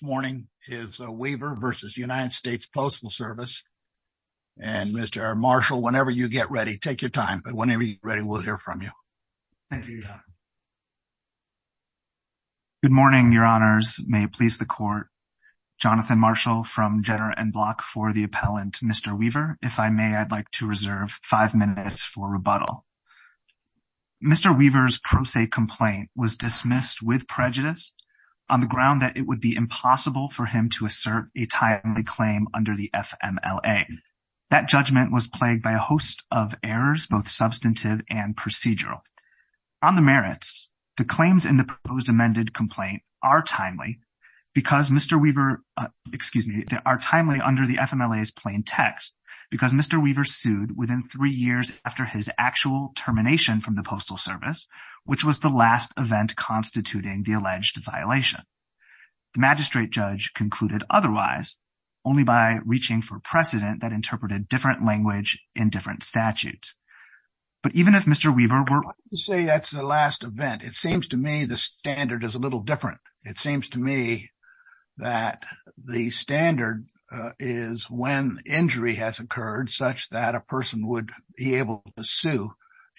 This morning is Weaver v. United States Postal Service, and Mr. Marshall, whenever you get ready, take your time, but whenever you're ready, we'll hear from you. Thank you, Your Honor. Good morning, Your Honors. May it please the Court. Jonathan Marshall from Jenner and Block for the appellant, Mr. Weaver. If I may, I'd like to reserve five minutes for rebuttal. Mr. Weaver's pro se complaint was dismissed with prejudice on the ground that it would be impossible for him to assert a timely claim under the FMLA. That judgment was plagued by a host of errors, both substantive and procedural. On the merits, the claims in the proposed amended complaint are timely because Mr. Weaver – excuse me – they are timely under the FMLA's plain text because Mr. Weaver sued within three years after his actual termination from the Postal Service, which was the last event constituting the alleged violation. The magistrate judge concluded otherwise, only by reaching for precedent that interpreted different language in different statutes. But even if Mr. Weaver were – I'd like to say that's the last event. It seems to me the standard is a little different. It seems to me that the standard is when injury has occurred such that a person would be able to sue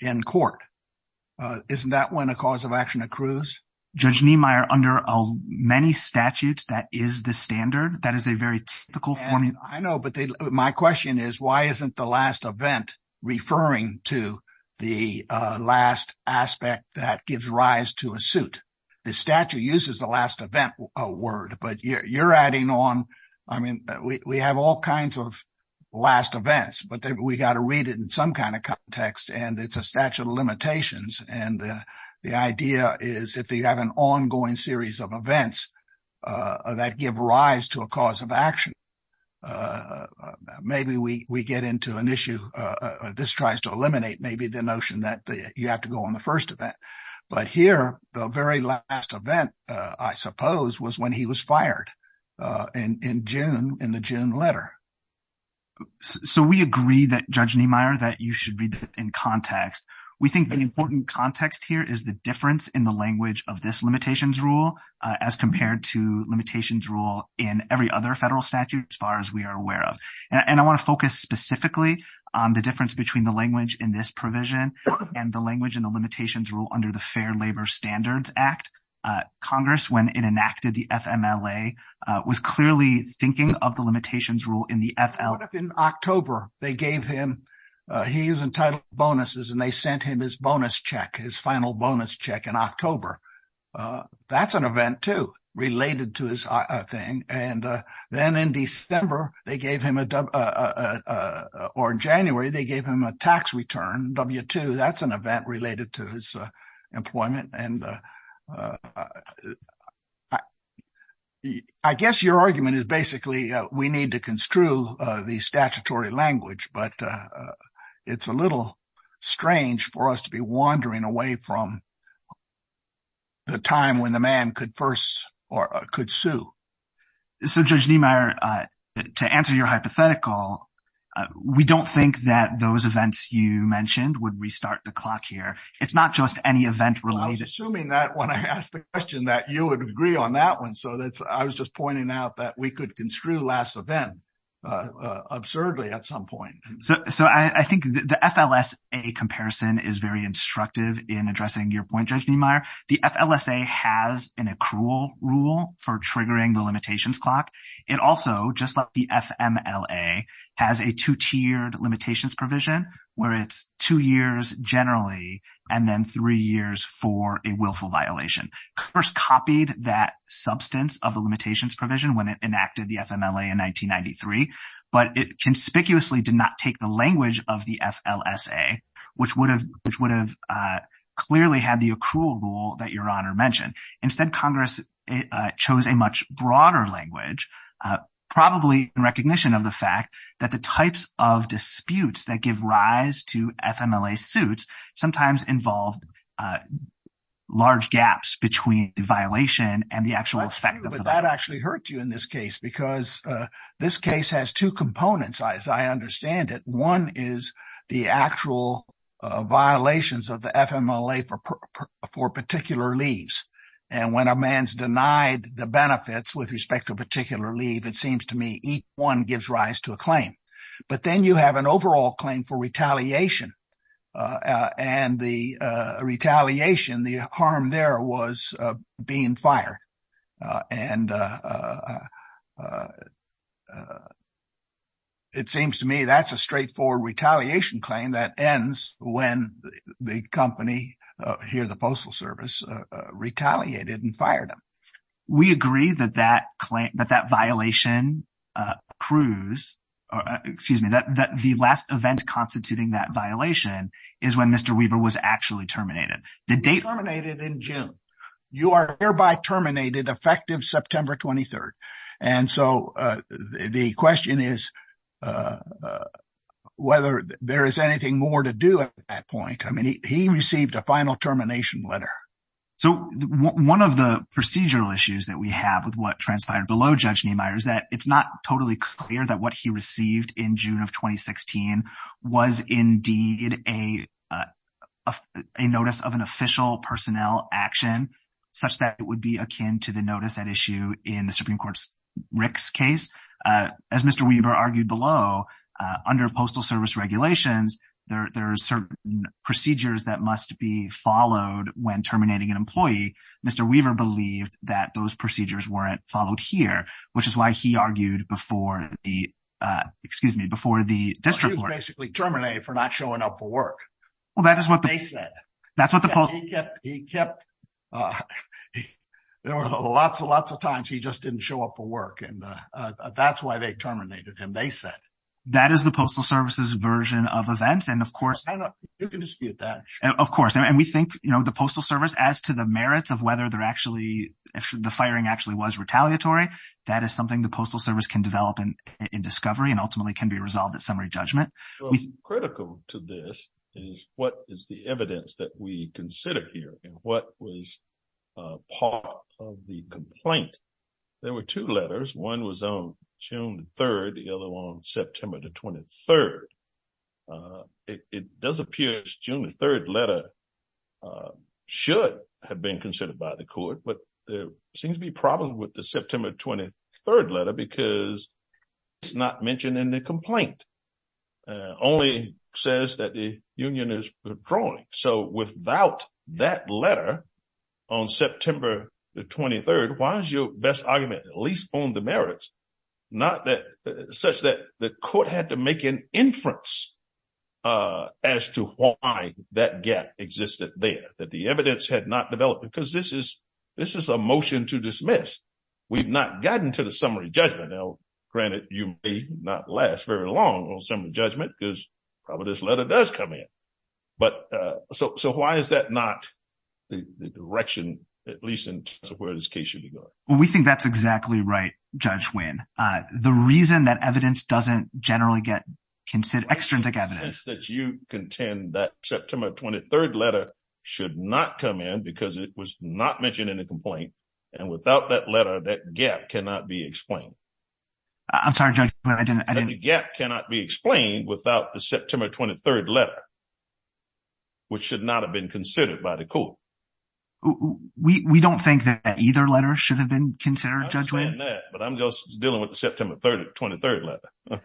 in court. Isn't that when a cause of action accrues? Judge Niemeyer, under many statutes, that is the standard. That is a very typical formula. I know, but my question is, why isn't the last event referring to the last aspect that gives rise to a suit? The statute uses the last event word, but you're adding on – I mean, we have all kinds of last events, but we've got to read it in some kind of context, and it's a statute of limitations, and the idea is if you have an ongoing series of events that give rise to a cause of action, maybe we get into an issue – this tries to eliminate maybe the notion that you have to go on the first event. But here, the very last event, I suppose, was when he was fired in the June letter. So, we agree that, Judge Niemeyer, that you should read it in context. We think the important context here is the difference in the language of this limitations rule as compared to limitations rule in every other federal statute as far as we are aware of. And I want to focus specifically on the difference between the language in this provision and the language in the limitations rule under the Fair Labor Standards Act. Congress, when it enacted the FMLA, was clearly thinking of the limitations rule in the FL… What if in October, they gave him – he was entitled to bonuses, and they sent him his bonus check, his final bonus check in October? That's an event, too, related to his thing. And then in December, they gave him a – or in January, they gave him a tax return, W-2. That's an event related to his employment. And I guess your argument is basically we need to construe the statutory language, but it's a little strange for us to be wandering away from the time when the man could first or could sue. So, Judge Niemeyer, to answer your hypothetical, we don't think that those events you mentioned would restart the clock here. It's not just any event related. I was assuming that when I asked the question that you would agree on that one. So I was just pointing out that we could construe last event absurdly at some point. So I think the FLSA comparison is very instructive in addressing your point, Judge Niemeyer. The FLSA has an accrual rule for triggering the limitations clock. It also, just like the FMLA, has a two-tiered limitations provision where it's two years generally and then three years for a willful violation. Congress copied that substance of the limitations provision when it enacted the FMLA in 1993, but it conspicuously did not take the language of the FLSA, which would have clearly had the accrual rule that Your Honor mentioned. Instead, Congress chose a much broader language, probably in recognition of the fact that the types of disputes that give rise to FMLA suits sometimes involve large gaps between the violation and the actual effect of the violation. That's true, but that actually hurt you in this case because this case has two components, as I understand it. One is the actual violations of the FMLA for particular leaves, and when a man's denied the benefits with respect to a particular leave, it seems to me each one gives rise to a claim. But then you have an overall claim for retaliation, and the retaliation, the harm there was being fired, and it seems to me that's a straightforward retaliation claim that ends when the company, here the Postal Service, retaliated and fired him. We agree that that claim, that that violation proves, excuse me, that the last event constituting that violation is when Mr. Weaver was actually terminated. The date... Terminated in June. You are thereby terminated effective September 23rd. And so the question is whether there is anything more to do at that point. I mean, he received a final termination letter. So one of the procedural issues that we have with what transpired below Judge Niemeyer is that it's not totally clear that what he received in June of 2016 was indeed a a notice of an official personnel action such that it would be akin to the notice at issue in the Supreme Court's Rick's case. As Mr. Weaver argued below, under Postal Service regulations, there are certain procedures that must be followed when terminating an employee. Mr. Weaver believed that those procedures weren't followed here, which is why he argued before the, excuse me, before the district court. He was basically terminated for not showing up for work. Well, that is what they said. That's what the... He kept... There were lots and lots of times he just didn't show up for work. And that's why they terminated him, they said. That is the Postal Service's version of events. And of course... You can dispute that. Of course. And we think, you know, the Postal Service, as to the merits of whether they're actually, the firing actually was retaliatory, that is something the Postal Service can develop in discovery and ultimately can be resolved at summary judgment. Critical to this is what is the evidence that we consider here? And what was part of the complaint? There were two letters. One was on June 3rd, the other one on September 23rd. It does appear June 3rd letter should have been considered by the court, but there seems to be problems with the September 23rd letter because it's not mentioned in the complaint. Only says that the union is withdrawing. So without that letter on September 23rd, why is your best argument, at least on the merits, such that the court had to make an inference as to why that gap existed there, that the evidence had not developed? Because this is a motion to dismiss. We've not gotten to the summary judgment. Granted, you may not last very long on summary judgment because probably this letter does come in. But so why is that not the direction, at least in terms of where this case should be going? Well, we think that's exactly right, Judge Winn. The reason that evidence doesn't generally get considered, extrinsic evidence. That you contend that September 23rd letter should not come in because it was not mentioned in the complaint. And without that letter, that gap cannot be explained. I'm sorry, Judge Winn, I didn't. The gap cannot be explained without the September 23rd letter, which should not have been considered by the court. We don't think that either letter should have been considered, Judge Winn. I understand that, but I'm just dealing with the September 23rd letter.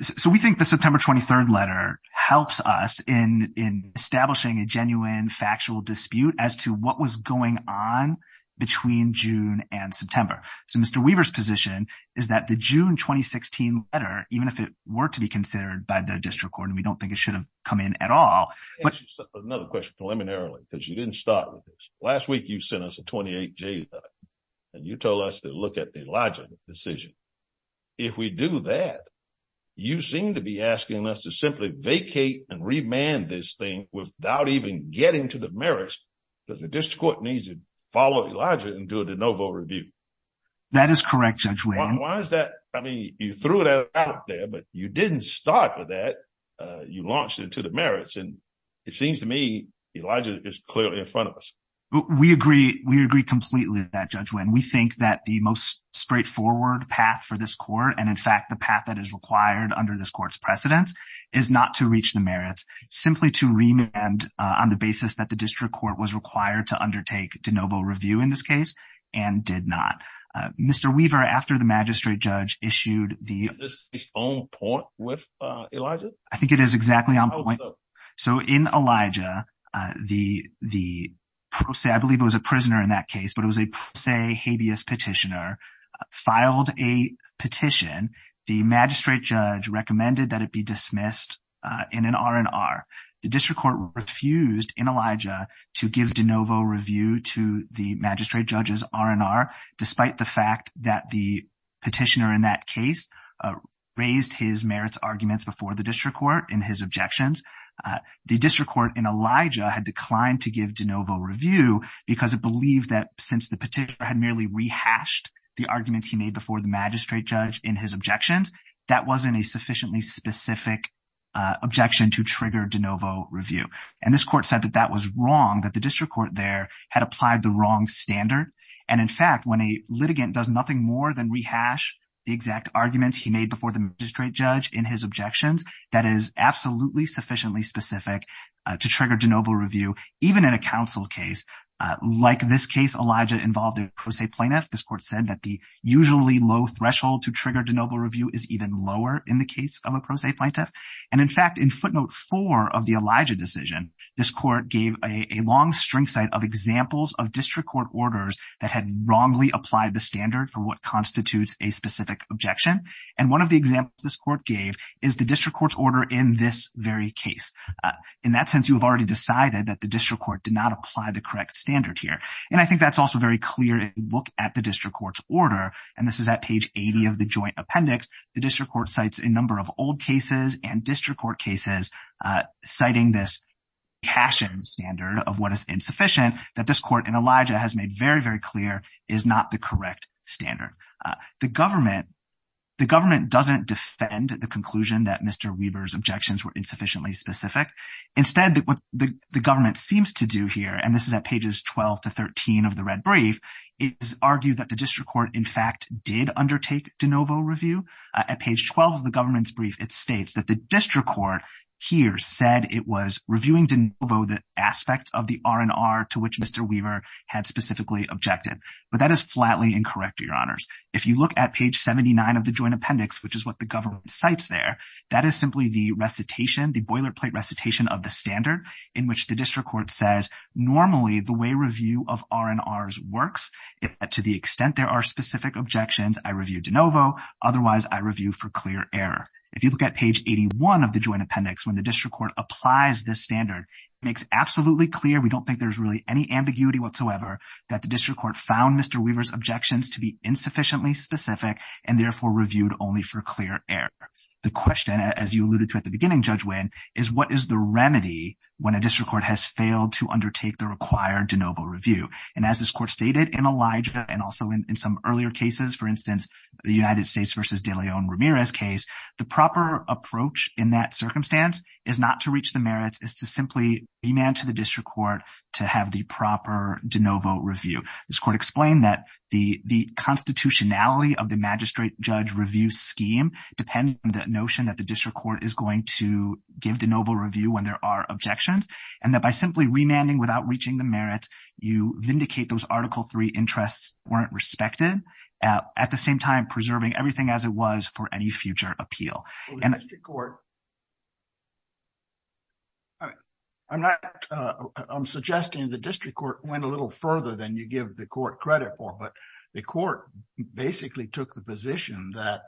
So we think the September 23rd letter helps us in establishing a genuine factual dispute as to what was going on between June and September. So Mr. Weaver's position is that the June 2016 letter, even if it were to be considered by the district court, and we don't think it should have come in at all. Another question, preliminarily, because you didn't start with this. Last week you sent us a 28-J letter and you told us to look at Elijah's decision. If we do that, you seem to be asking us to simply vacate and remand this thing without even getting to the merits because the district court needs to follow Elijah and do a de novo review. That is correct, Judge Winn. Why is that? I mean, you threw that out there, but you didn't start with that. You launched it to the merits, and it seems to me Elijah is clearly in front of us. We agree. We agree completely with that, Judge Winn. We think that the most straightforward path for this court, and in fact, the path that is required under this court's precedence, is not to reach the merits, simply to remand on the basis that the district court was required to undertake de novo review in this case and did not. Mr. Weaver, after the magistrate judge issued the... Is this on point with Elijah? I think it is exactly on point. So in Elijah, I believe it was a prisoner in that case, but it was a, say, habeas petitioner, filed a petition. The magistrate judge recommended that it be dismissed in an R&R. The district court refused in Elijah to give de novo review to the magistrate judge's R&R, despite the fact that the petitioner in that case raised his merits arguments before the district court in his objections. The district court in Elijah had declined to give de novo review because it believed that since the petitioner had merely rehashed the arguments he made before the magistrate judge in his objections, that wasn't a sufficiently specific objection to trigger de novo review. And this court said that that was wrong, that the district court there had applied the wrong standard. And in fact, when a litigant does nothing more than rehash the exact arguments he made before the magistrate judge in his objections, that is absolutely sufficiently specific to trigger de novo review, even in a counsel case. Like this case, Elijah involved a pro se plaintiff. This court said that the usually low threshold to trigger de novo review is even lower in the case of a pro se plaintiff. And in fact, in footnote four of the Elijah decision, this court gave a long string site of examples of district court orders that had wrongly applied the standard for what constitutes a specific objection. And one of the examples this court gave is the district court's order in this very case. In that sense, you have already decided that the district court did not apply the correct standard here. And I think that's also very clear if you look at the district court's order. And this is at page 80 of the joint appendix. The district court cites a number of old cases and district court cases citing this caching standard of what is insufficient that this court in Elijah has made very, very clear is not the correct standard. The government doesn't defend the conclusion that Mr. Weber's objections were insufficiently specific. Instead, what the government seems to do here, and this is at pages 12 to 13 of the red brief, is argue that the district court, in fact, did undertake de novo review at page 12 of the government's brief. It states that the district court here said it was reviewing de novo the aspects of the R&R to which Mr. Weber had specifically objected. But that is flatly incorrect, your honors. If you look at page 79 of the joint appendix, which is what the government cites there, that is simply the recitation, the boilerplate recitation of the standard in which the district court says normally the way review of R&Rs works, to the extent there are specific objections, I review de novo. Otherwise, I review for clear error. If you look at page 81 of the joint appendix, when the district court applies this standard, it makes absolutely clear, we don't think there's really any ambiguity whatsoever, that the district court found Mr. Weber's objections to be insufficiently specific and therefore reviewed only for clear error. The question, as you alluded to at the beginning, Judge Winn, is what is the remedy when a district court has failed to undertake the required de novo review? And as this court stated in Elijah and also in some earlier cases, for instance, the United States v. De Leon Ramirez case, the proper approach in that circumstance is not to reach the merits, it's to simply demand to the district court to have the proper de novo review. This court explained that the constitutionality of the magistrate-judge review scheme depends on the notion that the district court is going to give de novo review when there are objections. And that by simply remanding without reaching the merits, you vindicate those Article III interests weren't respected, at the same time preserving everything as it was for any future appeal. The district court... I'm suggesting the district court went a little further than you give the court credit for, but the court basically took the position that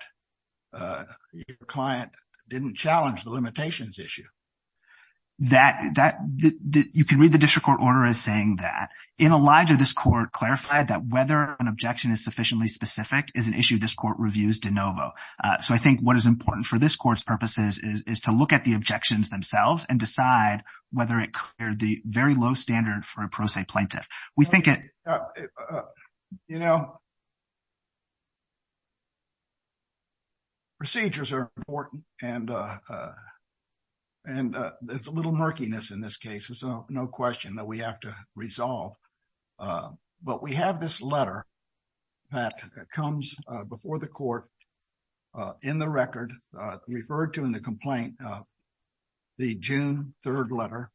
your client didn't challenge the limitations issue. You can read the district court order as saying that. In Elijah, this court clarified that whether an objection is sufficiently specific is an issue this court reviews de novo. So I think what is important for this court's purposes is to look at the objections themselves and decide whether it cleared the very low standard for a pro se plaintiff. We think it... You know, procedures are important and there's a little murkiness in this case, so no question that we have to resolve. But we have this letter that comes before the court in the record, referred to in the complaint, the June 3rd letter.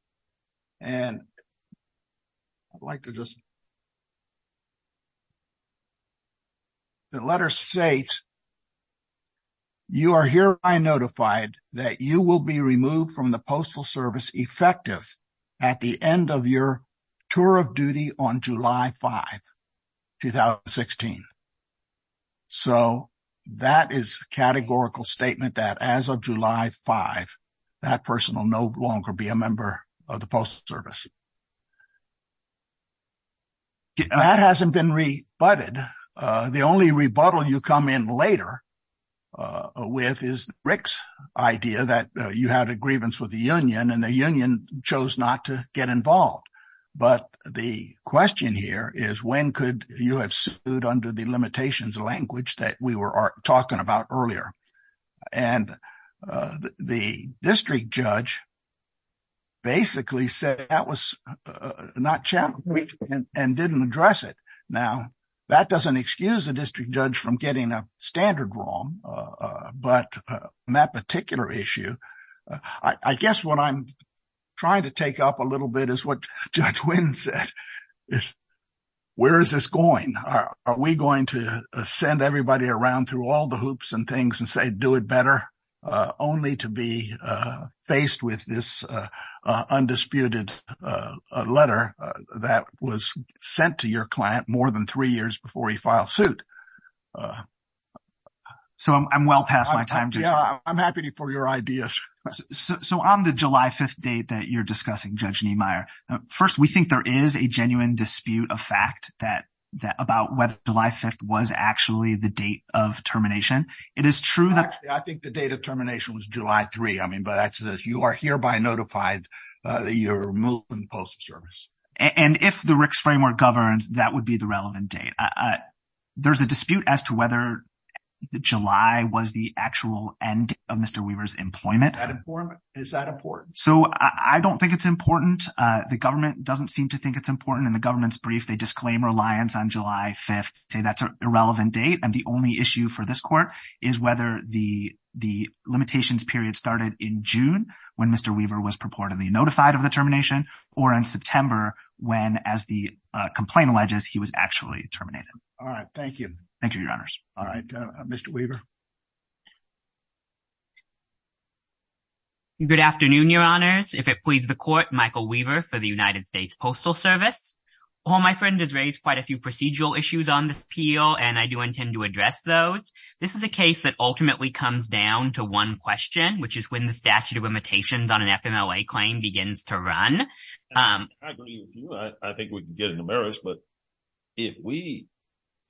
And I'd like to just... The letter states, you are hereby notified that you will be removed from the Postal Service effective at the end of your tour of duty on July 5, 2016. So that is a categorical statement that as of July 5, that person will no longer be a member of the Postal Service. That hasn't been rebutted. The only rebuttal you come in later with is Rick's idea that you had a grievance with the union and the union chose not to get involved. But the question here is, when could you have sued under the limitations language that we were talking about earlier? And the district judge basically said that was not challenging and didn't address it. Now, that doesn't excuse the district judge from getting a standard wrong. But on that particular issue, I guess what I'm trying to take up a little bit is what Judge Wynn said, is where is this going? Are we going to send everybody around through all the hoops and things and say, do it better, only to be faced with this undisputed letter that was sent to your client more than three years before he filed suit? So I'm well past my time. Yeah, I'm happy for your ideas. So on the July 5th date that you're discussing, Judge Niemeyer, first, we think there is a genuine dispute of fact about whether July 5th was actually the date of termination. It is true that- Actually, I think the date of termination was July 3. I mean, but you are hereby notified that you're removing the Postal Service. And if the RICS framework governs, that would be the relevant date. There's a dispute as to whether July was the actual end of Mr. Weaver's employment. Is that important? So I don't think it's important. The government doesn't seem to think it's important. In the government's brief, they disclaim reliance on July 5th, say that's an irrelevant date. And the only issue for this court is whether the limitations period started in June, when Mr. Weaver was purportedly notified of the termination, or in September, when, as the All right. Thank you. Thank you, Your Honors. All right. Mr. Weaver. Good afternoon, Your Honors. If it pleases the court, Michael Weaver for the United States Postal Service. My friend has raised quite a few procedural issues on this appeal, and I do intend to address those. This is a case that ultimately comes down to one question, which is when the statute of limitations on an FMLA claim begins to run. I agree with you. I think we can get into merits, but if we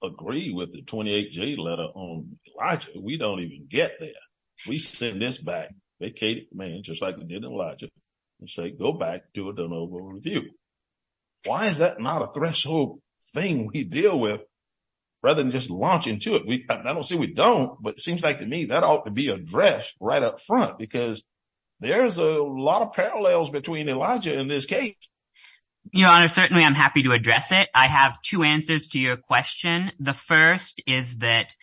agree with the 28-J letter on Elijah, we don't even get there. We send this back, vacate it, man, just like we did in Elijah, and say, go back, do a de novo review. Why is that not a threshold thing we deal with, rather than just launch into it? I don't see we don't, but it seems like to me that ought to be addressed right up front, because there's a lot of parallels between Elijah and this case. Your Honor, certainly I'm happy to address it. I have two answers to your question. The first is that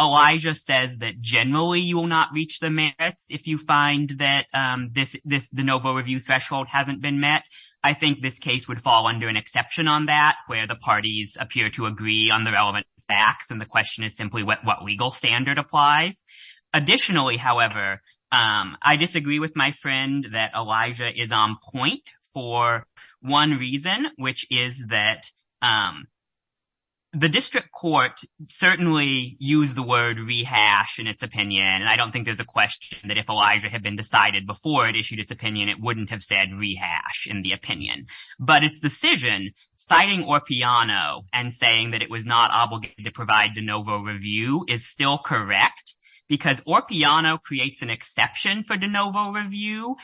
Elijah says that generally you will not reach the merits if you find that the de novo review threshold hasn't been met. I think this case would fall under an exception on that, where the parties appear to agree on the relevant facts, and the question is simply what legal standard applies. Additionally, however, I disagree with my friend that Elijah is on point for one reason, which is that the district court certainly used the word rehash in its opinion, and I don't think there's a question that if Elijah had been decided before it issued its opinion, it wouldn't have said rehash in the opinion. But its decision, citing Orpiano and saying that it was not obligated to provide de novo review is still correct, because Orpiano creates an exception for de novo review,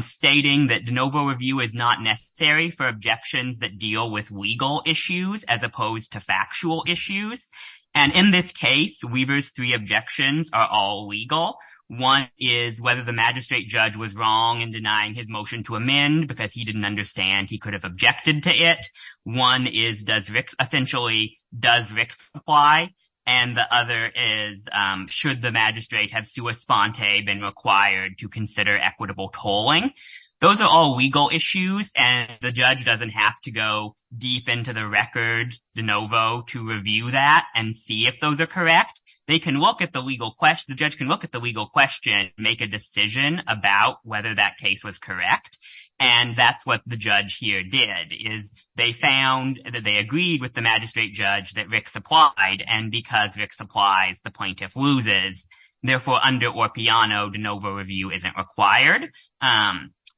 stating that de novo review is not necessary for objections that deal with legal issues as opposed to factual issues, and in this case, Weaver's three objections are all legal. One is whether the magistrate judge was wrong in denying his motion to amend because he didn't understand he could have objected to it. One is, essentially, does Ricks apply, and the other is, should the magistrate have sua sponte been required to consider equitable tolling? Those are all legal issues, and the judge doesn't have to go deep into the record de novo to review that and see if those are correct. They can look at the legal question, the judge can look at the legal question, make a decision about whether that case was correct, and that's what the judge here did, is they found that they agreed with the magistrate judge that Ricks applied, and because Ricks applies, the plaintiff loses. Therefore, under Orpiano, de novo review isn't required.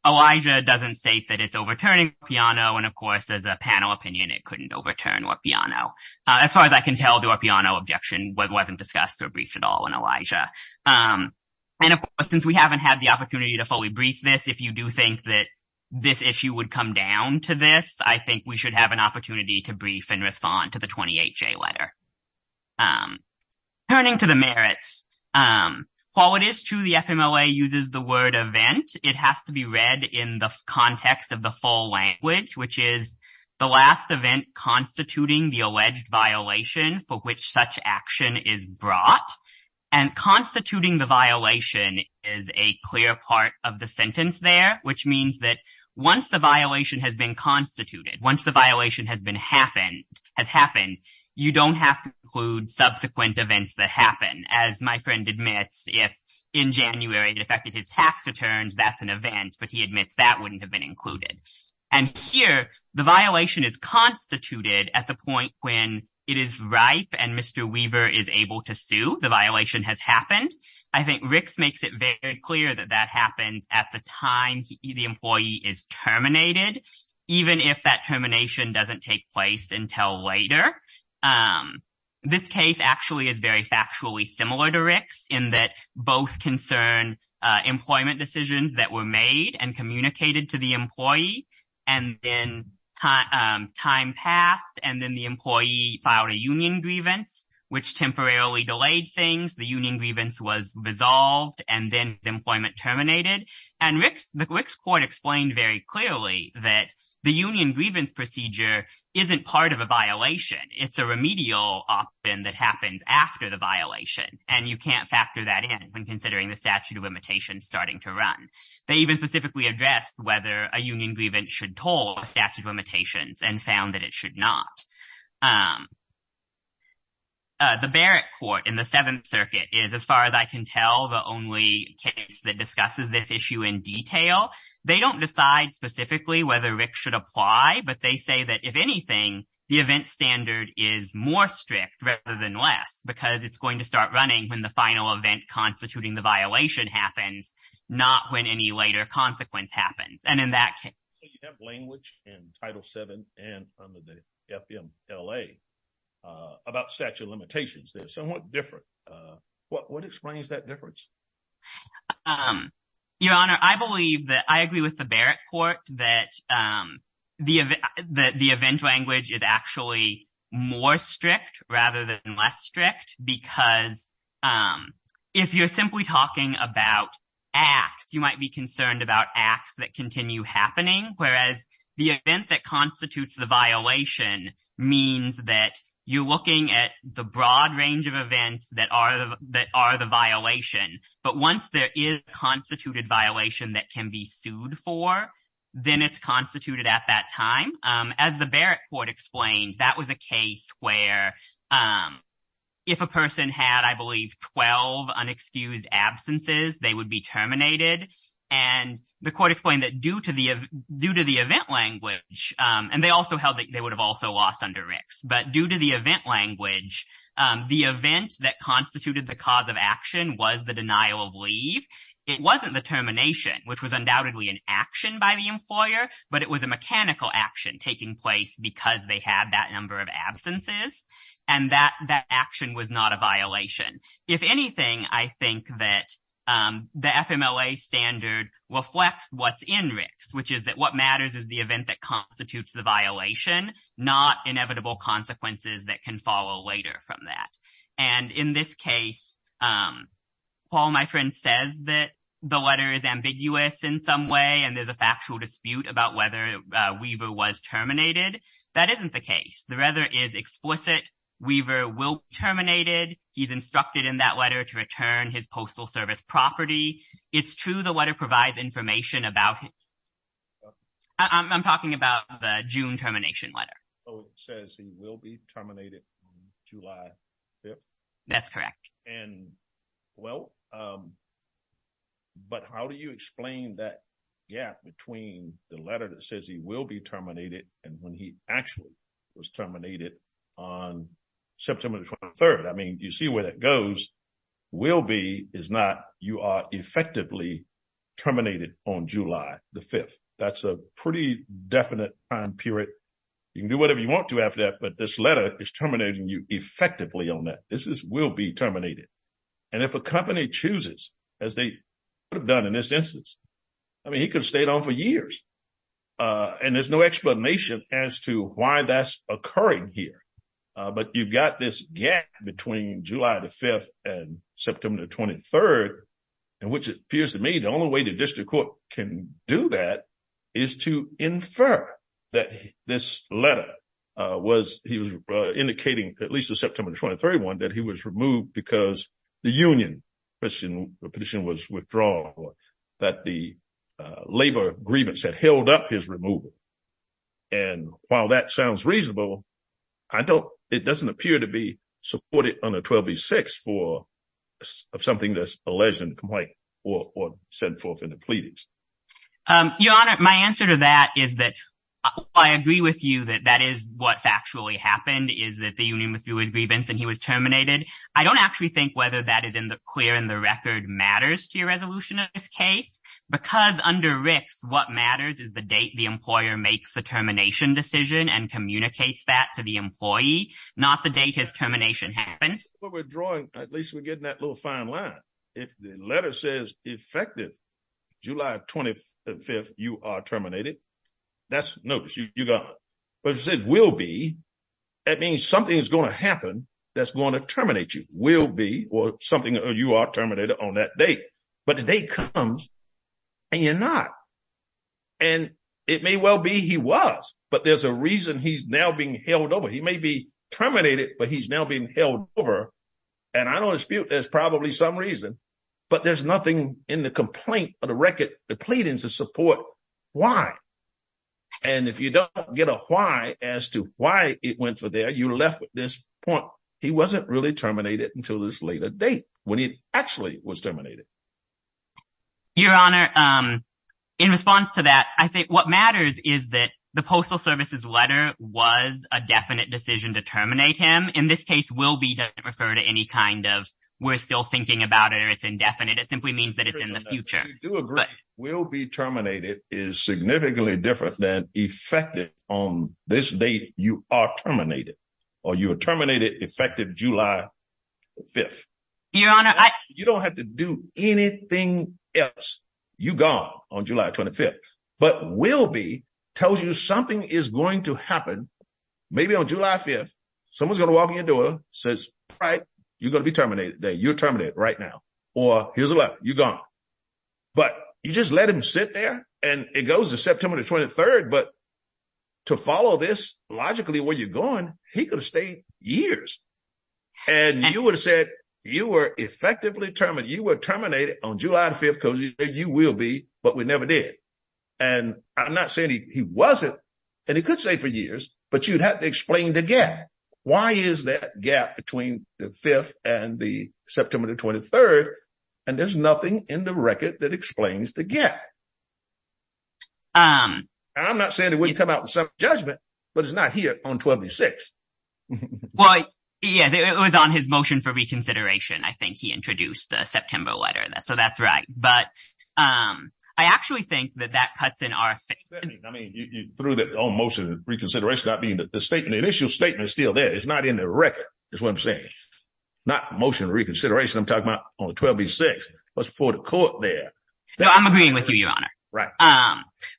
Elijah doesn't state that it's overturning Orpiano, and of course, as a panel opinion, it couldn't overturn Orpiano. As far as I can tell, the Orpiano objection wasn't discussed or briefed at all in Elijah. And of course, since we haven't had the opportunity to fully brief this, if you do think that this issue would come down to this, I think we should have an opportunity to brief and respond to the 28J letter. Turning to the merits, while it is true the FMLA uses the word event, it has to be read in the context of the full language, which is the last event constituting the alleged violation for which such action is brought, and constituting the violation is a clear part of the sentence there, which means that once the violation has been constituted, once the violation has happened, you don't have to include subsequent events that happen. As my friend admits, if in January it affected his tax returns, that's an event, but he admits that wouldn't have been included. And here, the violation is constituted at the point when it is ripe and Mr. Weaver is able to sue, the violation has happened. I think Ricks makes it very clear that that happens at the time the employee is terminated, even if that termination doesn't take place until later. This case actually is very factually similar to Ricks in that both concern employment decisions that were made and communicated to the employee, and then time passed, and then the employee filed a union grievance, which temporarily delayed things, the union grievance was resolved, and then employment terminated. And the Ricks court explained very clearly that the union grievance procedure isn't part of a violation. It's a remedial option that happens after the violation, and you can't factor that in when considering the statute of limitations starting to run. They even specifically addressed whether a union grievance should toll statute of limitations and found that it should not. The Barrett court in the Seventh Circuit is, as far as I can tell, the only case that discusses this issue in detail. They don't decide specifically whether Ricks should apply, but they say that if anything, the event standard is more strict rather than less because it's going to start running when the final event constituting the violation happens, not when any later consequence happens. So you have language in Title VII and under the FMLA about statute of limitations. They're somewhat different. What explains that difference? Your Honor, I agree with the Barrett court that the event language is actually more strict rather than less strict because if you're simply talking about acts, you might be concerned about acts that continue happening, whereas the event that constitutes the violation means that you're looking at the broad range of events that are the violation. But once there is a constituted violation that can be sued for, then it's constituted at that time. As the Barrett court explained, that was a case where if a person had, I believe, 12 absences, they would be terminated. And the court explained that due to the event language, and they also held that they would have also lost under Ricks, but due to the event language, the event that constituted the cause of action was the denial of leave. It wasn't the termination, which was undoubtedly an action by the employer, but it was a mechanical action taking place because they had that number of absences and that action was not a violation. If anything, I think that the FMLA standard reflects what's in Ricks, which is that what matters is the event that constitutes the violation, not inevitable consequences that can follow later from that. And in this case, while my friend says that the letter is ambiguous in some way and there's a factual dispute about whether Weaver was terminated, that isn't the case. The letter is explicit. Weaver will be terminated. He's instructed in that letter to return his Postal Service property. It's true the letter provides information about him. I'm talking about the June termination letter. So it says he will be terminated July 5th? That's correct. And well, but how do you explain that gap between the letter that says he will be terminated and when he actually was terminated on September 23rd? You see where that goes. Will be is not you are effectively terminated on July the 5th. That's a pretty definite time period. You can do whatever you want to after that, but this letter is terminating you effectively on that. This is will be terminated. And if a company chooses, as they would have done in this instance, he could have stayed on for years. And there's no explanation as to why that's occurring here. But you've got this gap between July the 5th and September 23rd, and which appears to me the only way the district court can do that is to infer that this letter was he was indicating at least the September 23rd one that he was removed because the union petition was withdrawn that the labor grievance had held up his removal. And while that sounds reasonable, I don't. It doesn't appear to be supported on the 26th for something that's a legend complaint or sent forth in the pleadings. Your Honor, my answer to that is that I agree with you that that is what factually happened is that the union was doing grievance and he was terminated. I don't actually think whether that is in the clear in the record matters to your resolution of this case, because under Rick's what matters is the date the employer makes the termination decision and communicates that to the employee, not the date his termination happens, but we're drawing, at least we're getting that little fine line. If the letter says effective July 25th, you are terminated. That's notice you got, but it says will be. That means something is going to happen that's going to terminate you will be or something you are terminated on that date. But the day comes and you're not. And it may well be he was, but there's a reason he's now being held over. He may be terminated, but he's now being held over. And I don't dispute there's probably some reason, but there's nothing in the complaint or the record, the pleadings to support why. And if you don't get a why as to why it went for there, you left with this point. He wasn't really terminated until this later date when he actually was terminated. Your Honor, in response to that, I think what matters is that the Postal Service's letter was a definite decision to terminate him. In this case, will be referred to any kind of we're still thinking about it or it's indefinite. It simply means that it's in the future. Do agree will be terminated is significantly different than effective on this date. You are terminated or you are terminated effective July 5th. You don't have to do anything else. You go on July 25th, but will be tells you something is going to happen. Maybe on July 5th, someone's going to walk in your door, says, right, you're going to be terminated that you're terminated right now. Or here's what you got. But you just let him sit there and it goes to September 23rd. But to follow this logically where you're going, he could have stayed years. And you would have said you were effectively determined you were terminated on July 5th because you will be, but we never did. And I'm not saying he wasn't and he could say for years, but you'd have to explain the gap. Why is that gap between the 5th and the September 23rd? And there's nothing in the record that explains the gap. I'm not saying it wouldn't come out in some judgment, but it's not here on 26. Well, yeah, it was on his motion for reconsideration. I think he introduced the September letter. So that's right. But I actually think that that cuts in our. I mean, through the motion of reconsideration, I mean, the statement, the initial statement is still there. It's not in the record. That's what I'm saying. Not motion reconsideration. I'm talking about on the 26th. What's before the court there? I'm agreeing with you, Your Honor. Right.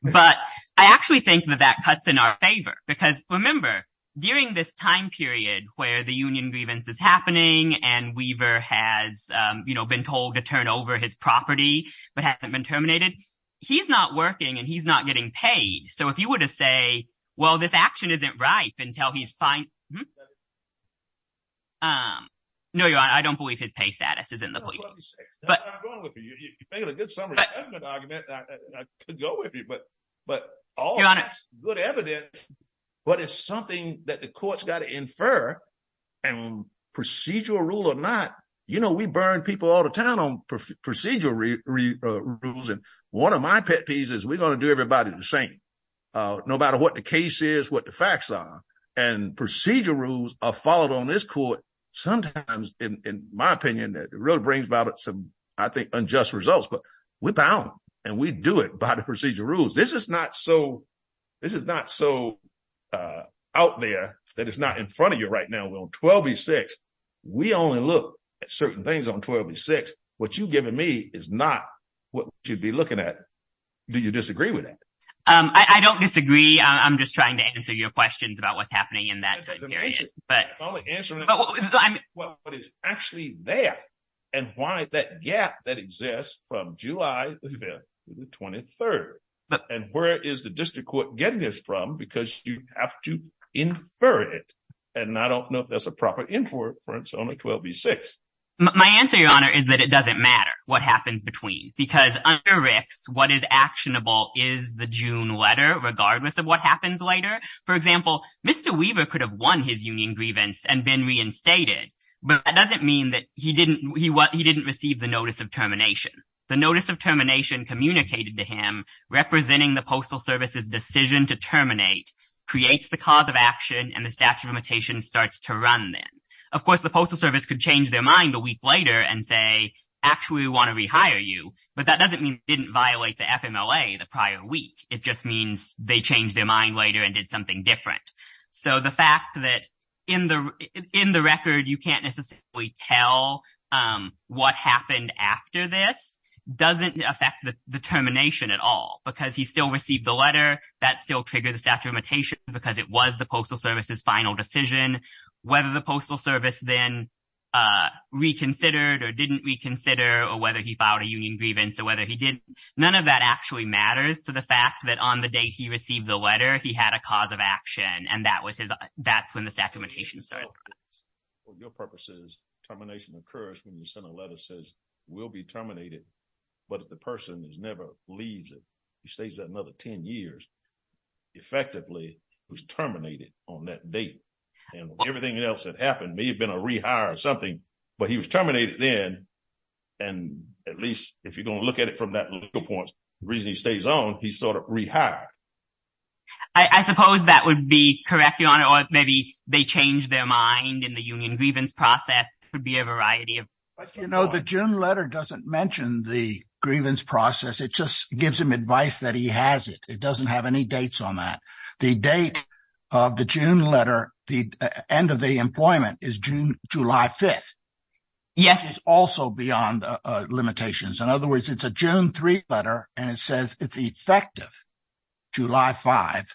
But I actually think that that cuts in our favor. Because remember, during this time period where the union grievance is happening and Weaver has been told to turn over his property but hasn't been terminated, he's not working and he's not getting paid. So if you were to say, well, this action isn't right until he's fine. No, Your Honor, I don't believe his pay status is in the. I'm going with you. You made a good summary. That's a good argument. I could go with you. But all that's good evidence. But it's something that the court's got to infer and procedural rule or not. You know, we burn people all the time on procedural rules. And one of my pet peeves is we're going to do everybody the same, no matter what the case is, what the facts are. And procedural rules are followed on this court. Sometimes, in my opinion, it really brings about some, I think, unjust results. But we're bound and we do it by the procedural rules. This is not so. This is not so out there that it's not in front of you right now. We're on 12 v. 6. We only look at certain things on 12 v. 6. What you've given me is not what you'd be looking at. Do you disagree with that? I don't disagree. I'm just trying to answer your questions about what's happening in that period. I'm answering what is actually there and why that gap that exists from July the 23rd. And where is the district court getting this from? Because you have to infer it. And I don't know if that's a proper inference on a 12 v. 6. My answer, Your Honor, is that it doesn't matter what happens between. Because under Ricks, what is actionable is the June letter, regardless of what happens later. For example, Mr. Weaver could have won his union grievance and been reinstated. But that doesn't mean that he didn't receive the notice of termination. The notice of termination communicated to him, representing the Postal Service's decision to terminate, creates the cause of action, and the statute of limitations starts to run then. Of course, the Postal Service could change their mind a week later and say, actually, we want to rehire you. But that doesn't mean it didn't violate the FMLA the prior week. It just means they changed their mind later and did something different. So the fact that in the record, you can't necessarily tell what happened after this doesn't affect the termination at all. Because he still received the letter, that still triggered the statute of limitations, because it was the Postal Service's final decision. Whether the Postal Service then reconsidered or didn't reconsider, or whether he filed a union grievance or whether he didn't, none of that actually matters to the fact that on the day he received the letter, he had a cause of action. And that's when the statute of limitations started. For your purposes, termination occurs when you send a letter that says, we'll be terminated. But if the person never leaves it, he stays there another 10 years, effectively, he was terminated on that date. And everything else that happened may have been a rehire or something, but he was terminated then. And at least if you're going to look at it from that legal point, the reason he stays on, he's sort of rehired. I suppose that would be correct, Your Honor, or maybe they changed their mind in the union grievance process. It could be a variety of- But you know, the June letter doesn't mention the grievance process. It just gives him advice that he has it. It doesn't have any dates on that. The date of the June letter, the end of the employment is July 5th. Yes. Which is also beyond limitations. In other words, it's a June 3 letter, and it says it's effective July 5,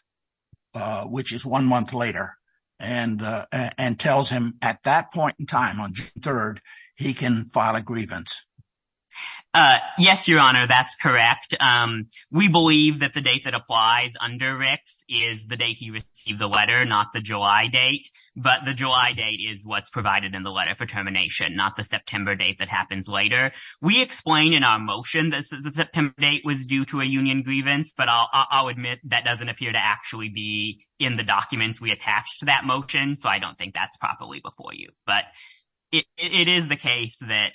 which is one month later, and tells him at that point in time on June 3rd, he can file a grievance. Yes, Your Honor, that's correct. We believe that the date that applies under RICS is the date he received the letter, not the July date. But the July date is what's provided in the letter for termination, not the September date that happens later. We explain in our motion that the September date was due to a union grievance, but I'll admit that doesn't appear to actually be in the documents we attached to that motion, so I don't think that's properly before you. But it is the case that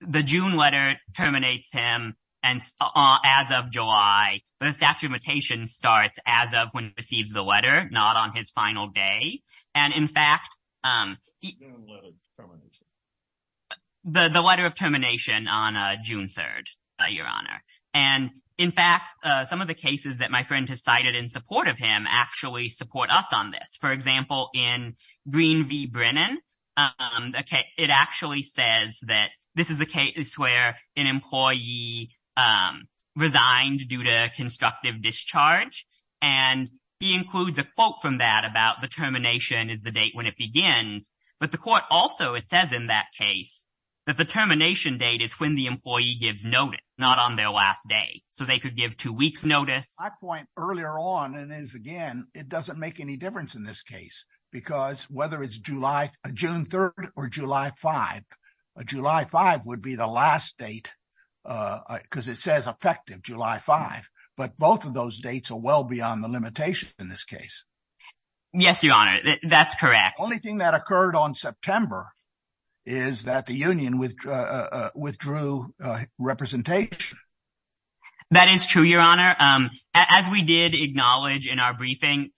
the June letter terminates him, and as of July, the statute of limitations starts as of when he receives the letter, not on his final day. And in fact, the letter of termination on June 3rd, Your Honor. And in fact, some of the cases that my friend has cited in support of him actually support us on this. For example, in Green v. Brennan, it actually says that this is the case where an employee resigned due to constructive discharge, and he includes a quote from that about the termination is the date when it begins. But the court also says in that case that the termination date is when the employee gives notice, not on their last day. So they could give two weeks' notice. My point earlier on is, again, it doesn't make any difference in this case, because whether it's June 3rd or July 5th, July 5th would be the last date because it says effective July 5th. But both of those dates are well beyond the limitation in this case. Yes, Your Honor, that's correct. Only thing that occurred on September is that the union withdrew representation. That is true, Your Honor. As we did acknowledge in our briefing,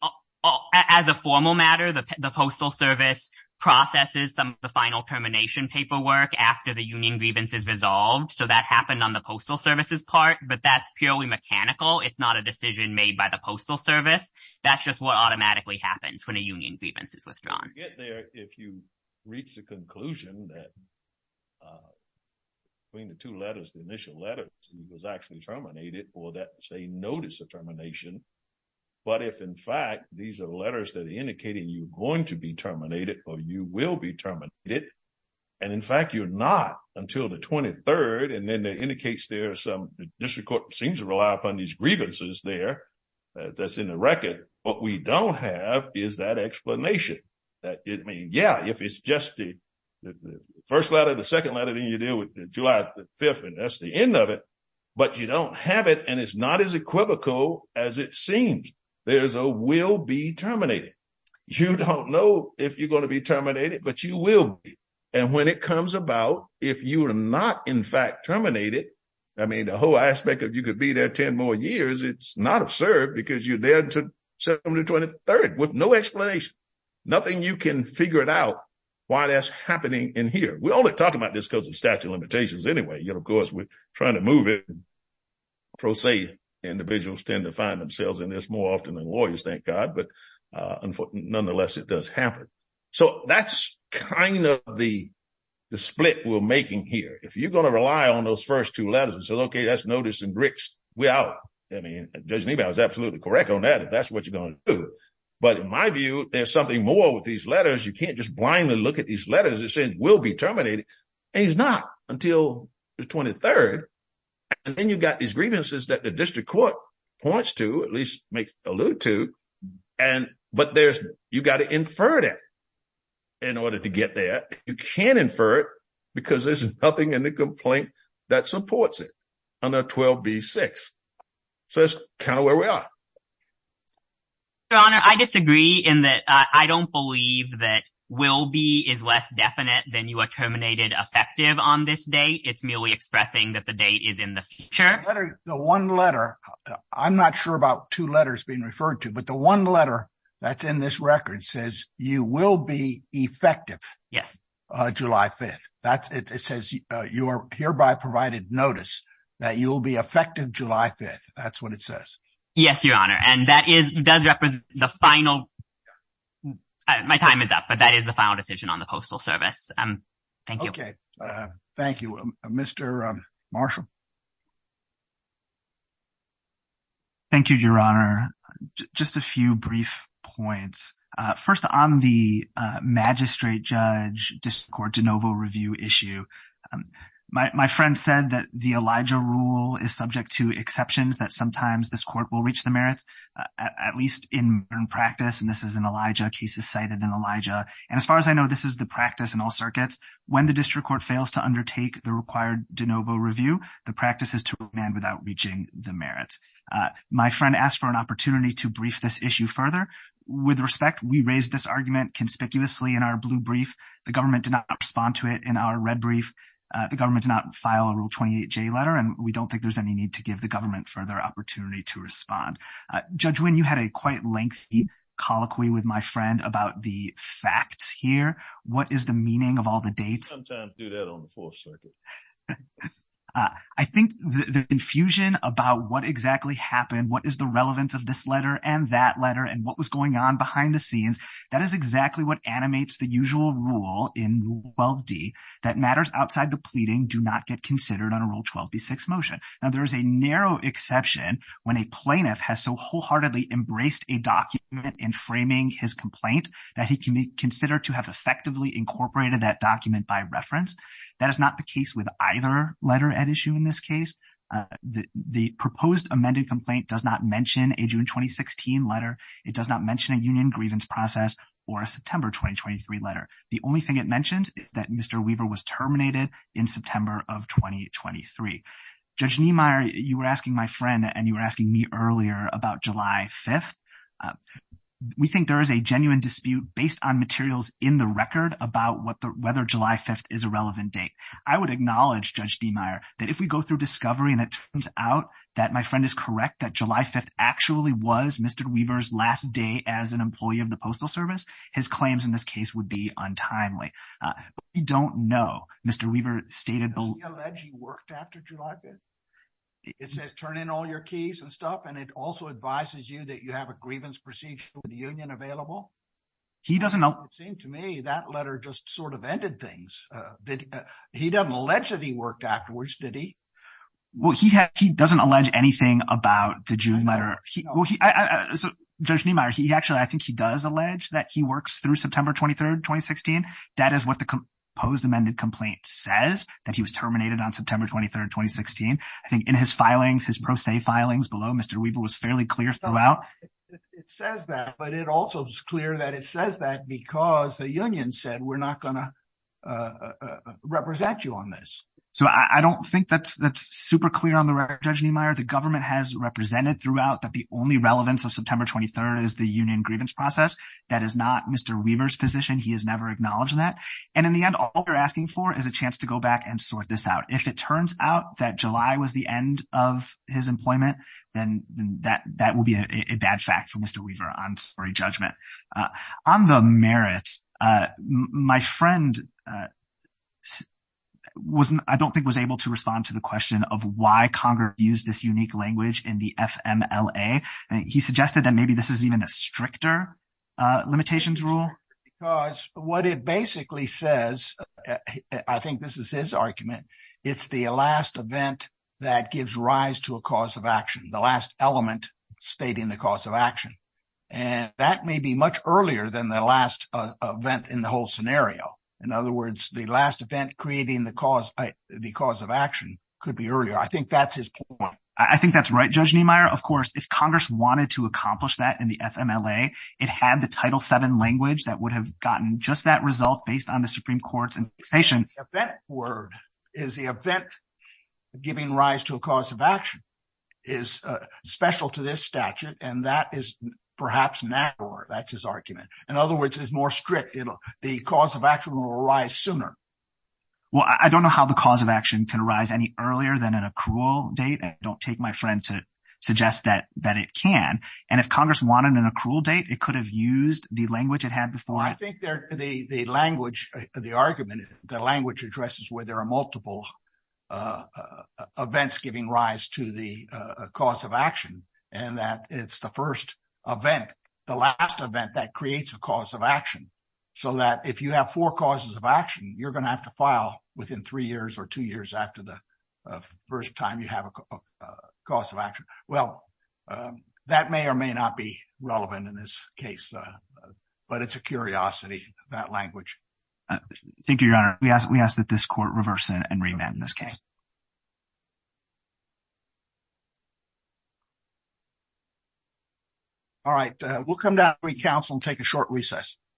as a formal matter, the Postal Service processes some of the final termination paperwork after the union grievance is resolved. So that happened on the Postal Service's part, but that's purely mechanical. It's not a decision made by the Postal Service. That's just what automatically happens when a union grievance is withdrawn. You get there if you reach the conclusion that between the two letters, the initial letter was actually terminated, or that they notice the termination. But if, in fact, these are letters that are indicating you're going to be terminated, or you will be terminated, and, in fact, you're not until the 23rd, it indicates there are some, the district court seems to rely upon these grievances there that's in the record. What we don't have is that explanation. Yeah, if it's just the first letter, the second letter, then you deal with July 5th, and that's the end of it. But you don't have it, and it's not as equivocal as it seems. There's a will be terminated. You don't know if you're going to be terminated, but you will be. And when it comes about, if you are not, in fact, terminated, I mean, the whole aspect of you could be there 10 more years, it's not absurd because you're there until the 23rd with no explanation. Nothing you can figure out why that's happening in here. We only talk about this because of statute of limitations anyway. Of course, we're trying to move it. Pro se, individuals tend to find themselves in this more often than lawyers, thank God. But nonetheless, it does happen. So that's kind of the split we're making here. If you're going to rely on those first two letters and say, okay, that's notice and bricks, we're out. I mean, Judge Niebuhr is absolutely correct on that. If that's what you're going to do. But in my view, there's something more with these letters. You can't just blindly look at these letters and say, will be terminated. And it's not until the 23rd. And then you've got these grievances that the district court points to, at least makes allude to. But you've got to infer that in order to get there. You can't infer it because there's nothing in the complaint that supports it under 12B-6. So that's kind of where we are. Your Honor, I disagree in that I don't believe that will be is less definite than you are terminated effective on this date. It's merely expressing that the date is in the future. I'm not sure about two letters being referred to. But the one letter that's in this record says you will be effective July 5th. It says you are hereby provided notice that you will be effective July 5th. That's what it says. Yes, Your Honor. And that does represent the final. My time is up, but that is the final decision on the Postal Service. Thank you. Okay, thank you, Mr. Marshall. Thank you, Your Honor. Just a few brief points. First, on the magistrate judge district court de novo review issue, my friend said that the Elijah rule is subject to exceptions that sometimes this court will reach the merits, at least in practice. And this is in Elijah. Case is cited in Elijah. And as far as I know, this is the practice in all circuits. When the district court fails to undertake the required de novo review, the practice is to amend without reaching the merit. My friend asked for an opportunity to brief this issue further. With respect, we raised this argument conspicuously in our blue brief. The government did not respond to it in our red brief. The government did not file a Rule 28J letter, and we don't think there's any need to give the government further opportunity to respond. Judge Wynne, you had a quite lengthy colloquy with my friend about the facts here. What is the meaning of all the dates? We sometimes do that on the Fourth Circuit. I think the infusion about what exactly happened, what is the relevance of this letter and that letter, and what was going on behind the scenes, that is exactly what animates the usual rule in Rule 12D that matters outside the pleading do not get considered on a Rule 12B6 motion. Now, there is a narrow exception when a plaintiff has so wholeheartedly embraced a document in framing his complaint that he can be considered to have effectively incorporated that document by reference. That is not the case with either letter at issue in this case. The proposed amended complaint does not mention a June 2016 letter. It does not mention a union grievance process or a September 2023 letter. The only thing it mentions is that Mr. Weaver was terminated in September of 2023. Judge Niemeyer, you were asking my friend and you were asking me earlier about July 5th. We think there is a genuine dispute based on materials in the record about whether July 5th is a relevant date. I would acknowledge, Judge Niemeyer, that if we go through discovery and it turns out that my friend is correct, that July 5th actually was Mr. Weaver's last day as an employee of the Postal Service, his claims in this case would be untimely. But we don't know. Mr. Weaver stated... Does he allege he worked after July 5th? It says, turn in all your keys and stuff, and it also advises you that you have a grievance procedure with the union available? He doesn't know. It seems to me that letter just sort of ended things. He doesn't allege that he worked afterwards, did he? Well, he doesn't allege anything about the June letter. Judge Niemeyer, actually, I think he does allege that he works through September 23rd, 2016. That is what the proposed amended complaint says, that he was terminated on September 23rd, 2016. I think in his filings, his pro se filings below, Mr. Weaver was fairly clear throughout. It says that, but it also is clear that it says that because the union said, we're not going to represent you on this. So I don't think that's super clear on the record, Judge Niemeyer. The government has represented throughout that the only relevance of September 23rd is the union grievance process. That is not Mr. Weaver's position. He has never acknowledged that. And in the end, all we're asking for is a chance to go back and sort this out. If it turns out that July was the end of his employment, then that will be a bad fact for Mr. Weaver on slurry judgment. On the merits, my friend, I don't think was able to respond to the question of why Congress used this unique language in the FMLA. He suggested that maybe this is even a stricter limitations rule. It's stricter because what it basically says, I think this is his argument, it's the last event that gives rise to a cause of action, the last element stating the cause of action. And that may be much earlier than the last event in the whole scenario. In other words, the last event creating the cause of action could be earlier. I think that's his point. I think that's right, Judge Niemeyer. Of course, if Congress wanted to accomplish that in the FMLA, it had the Title VII language that would have gotten just that result based on the Supreme Court's taxation. The event word is the event giving rise to a cause of action is special to this statute, and that is perhaps narrower. That's his argument. In other words, it's more strict. The cause of action will arise sooner. Well, I don't know how the cause of action can arise any earlier than an accrual date. I don't take my friend to suggest that it can. And if Congress wanted an accrual date, it could have used the language it had before. I think the language, the argument, the language addresses where there are multiple events giving rise to the cause of action, and that it's the first event, the last event that creates a cause of action. So that if you have four causes of action, you're going to have to file within three years or two years after the first time you have a cause of action. Well, that may or may not be relevant in this case, but it's a curiosity, that language. Thank you, Your Honor. We ask that this court reverse and remand in this case. All right. We'll come down and take a short recess.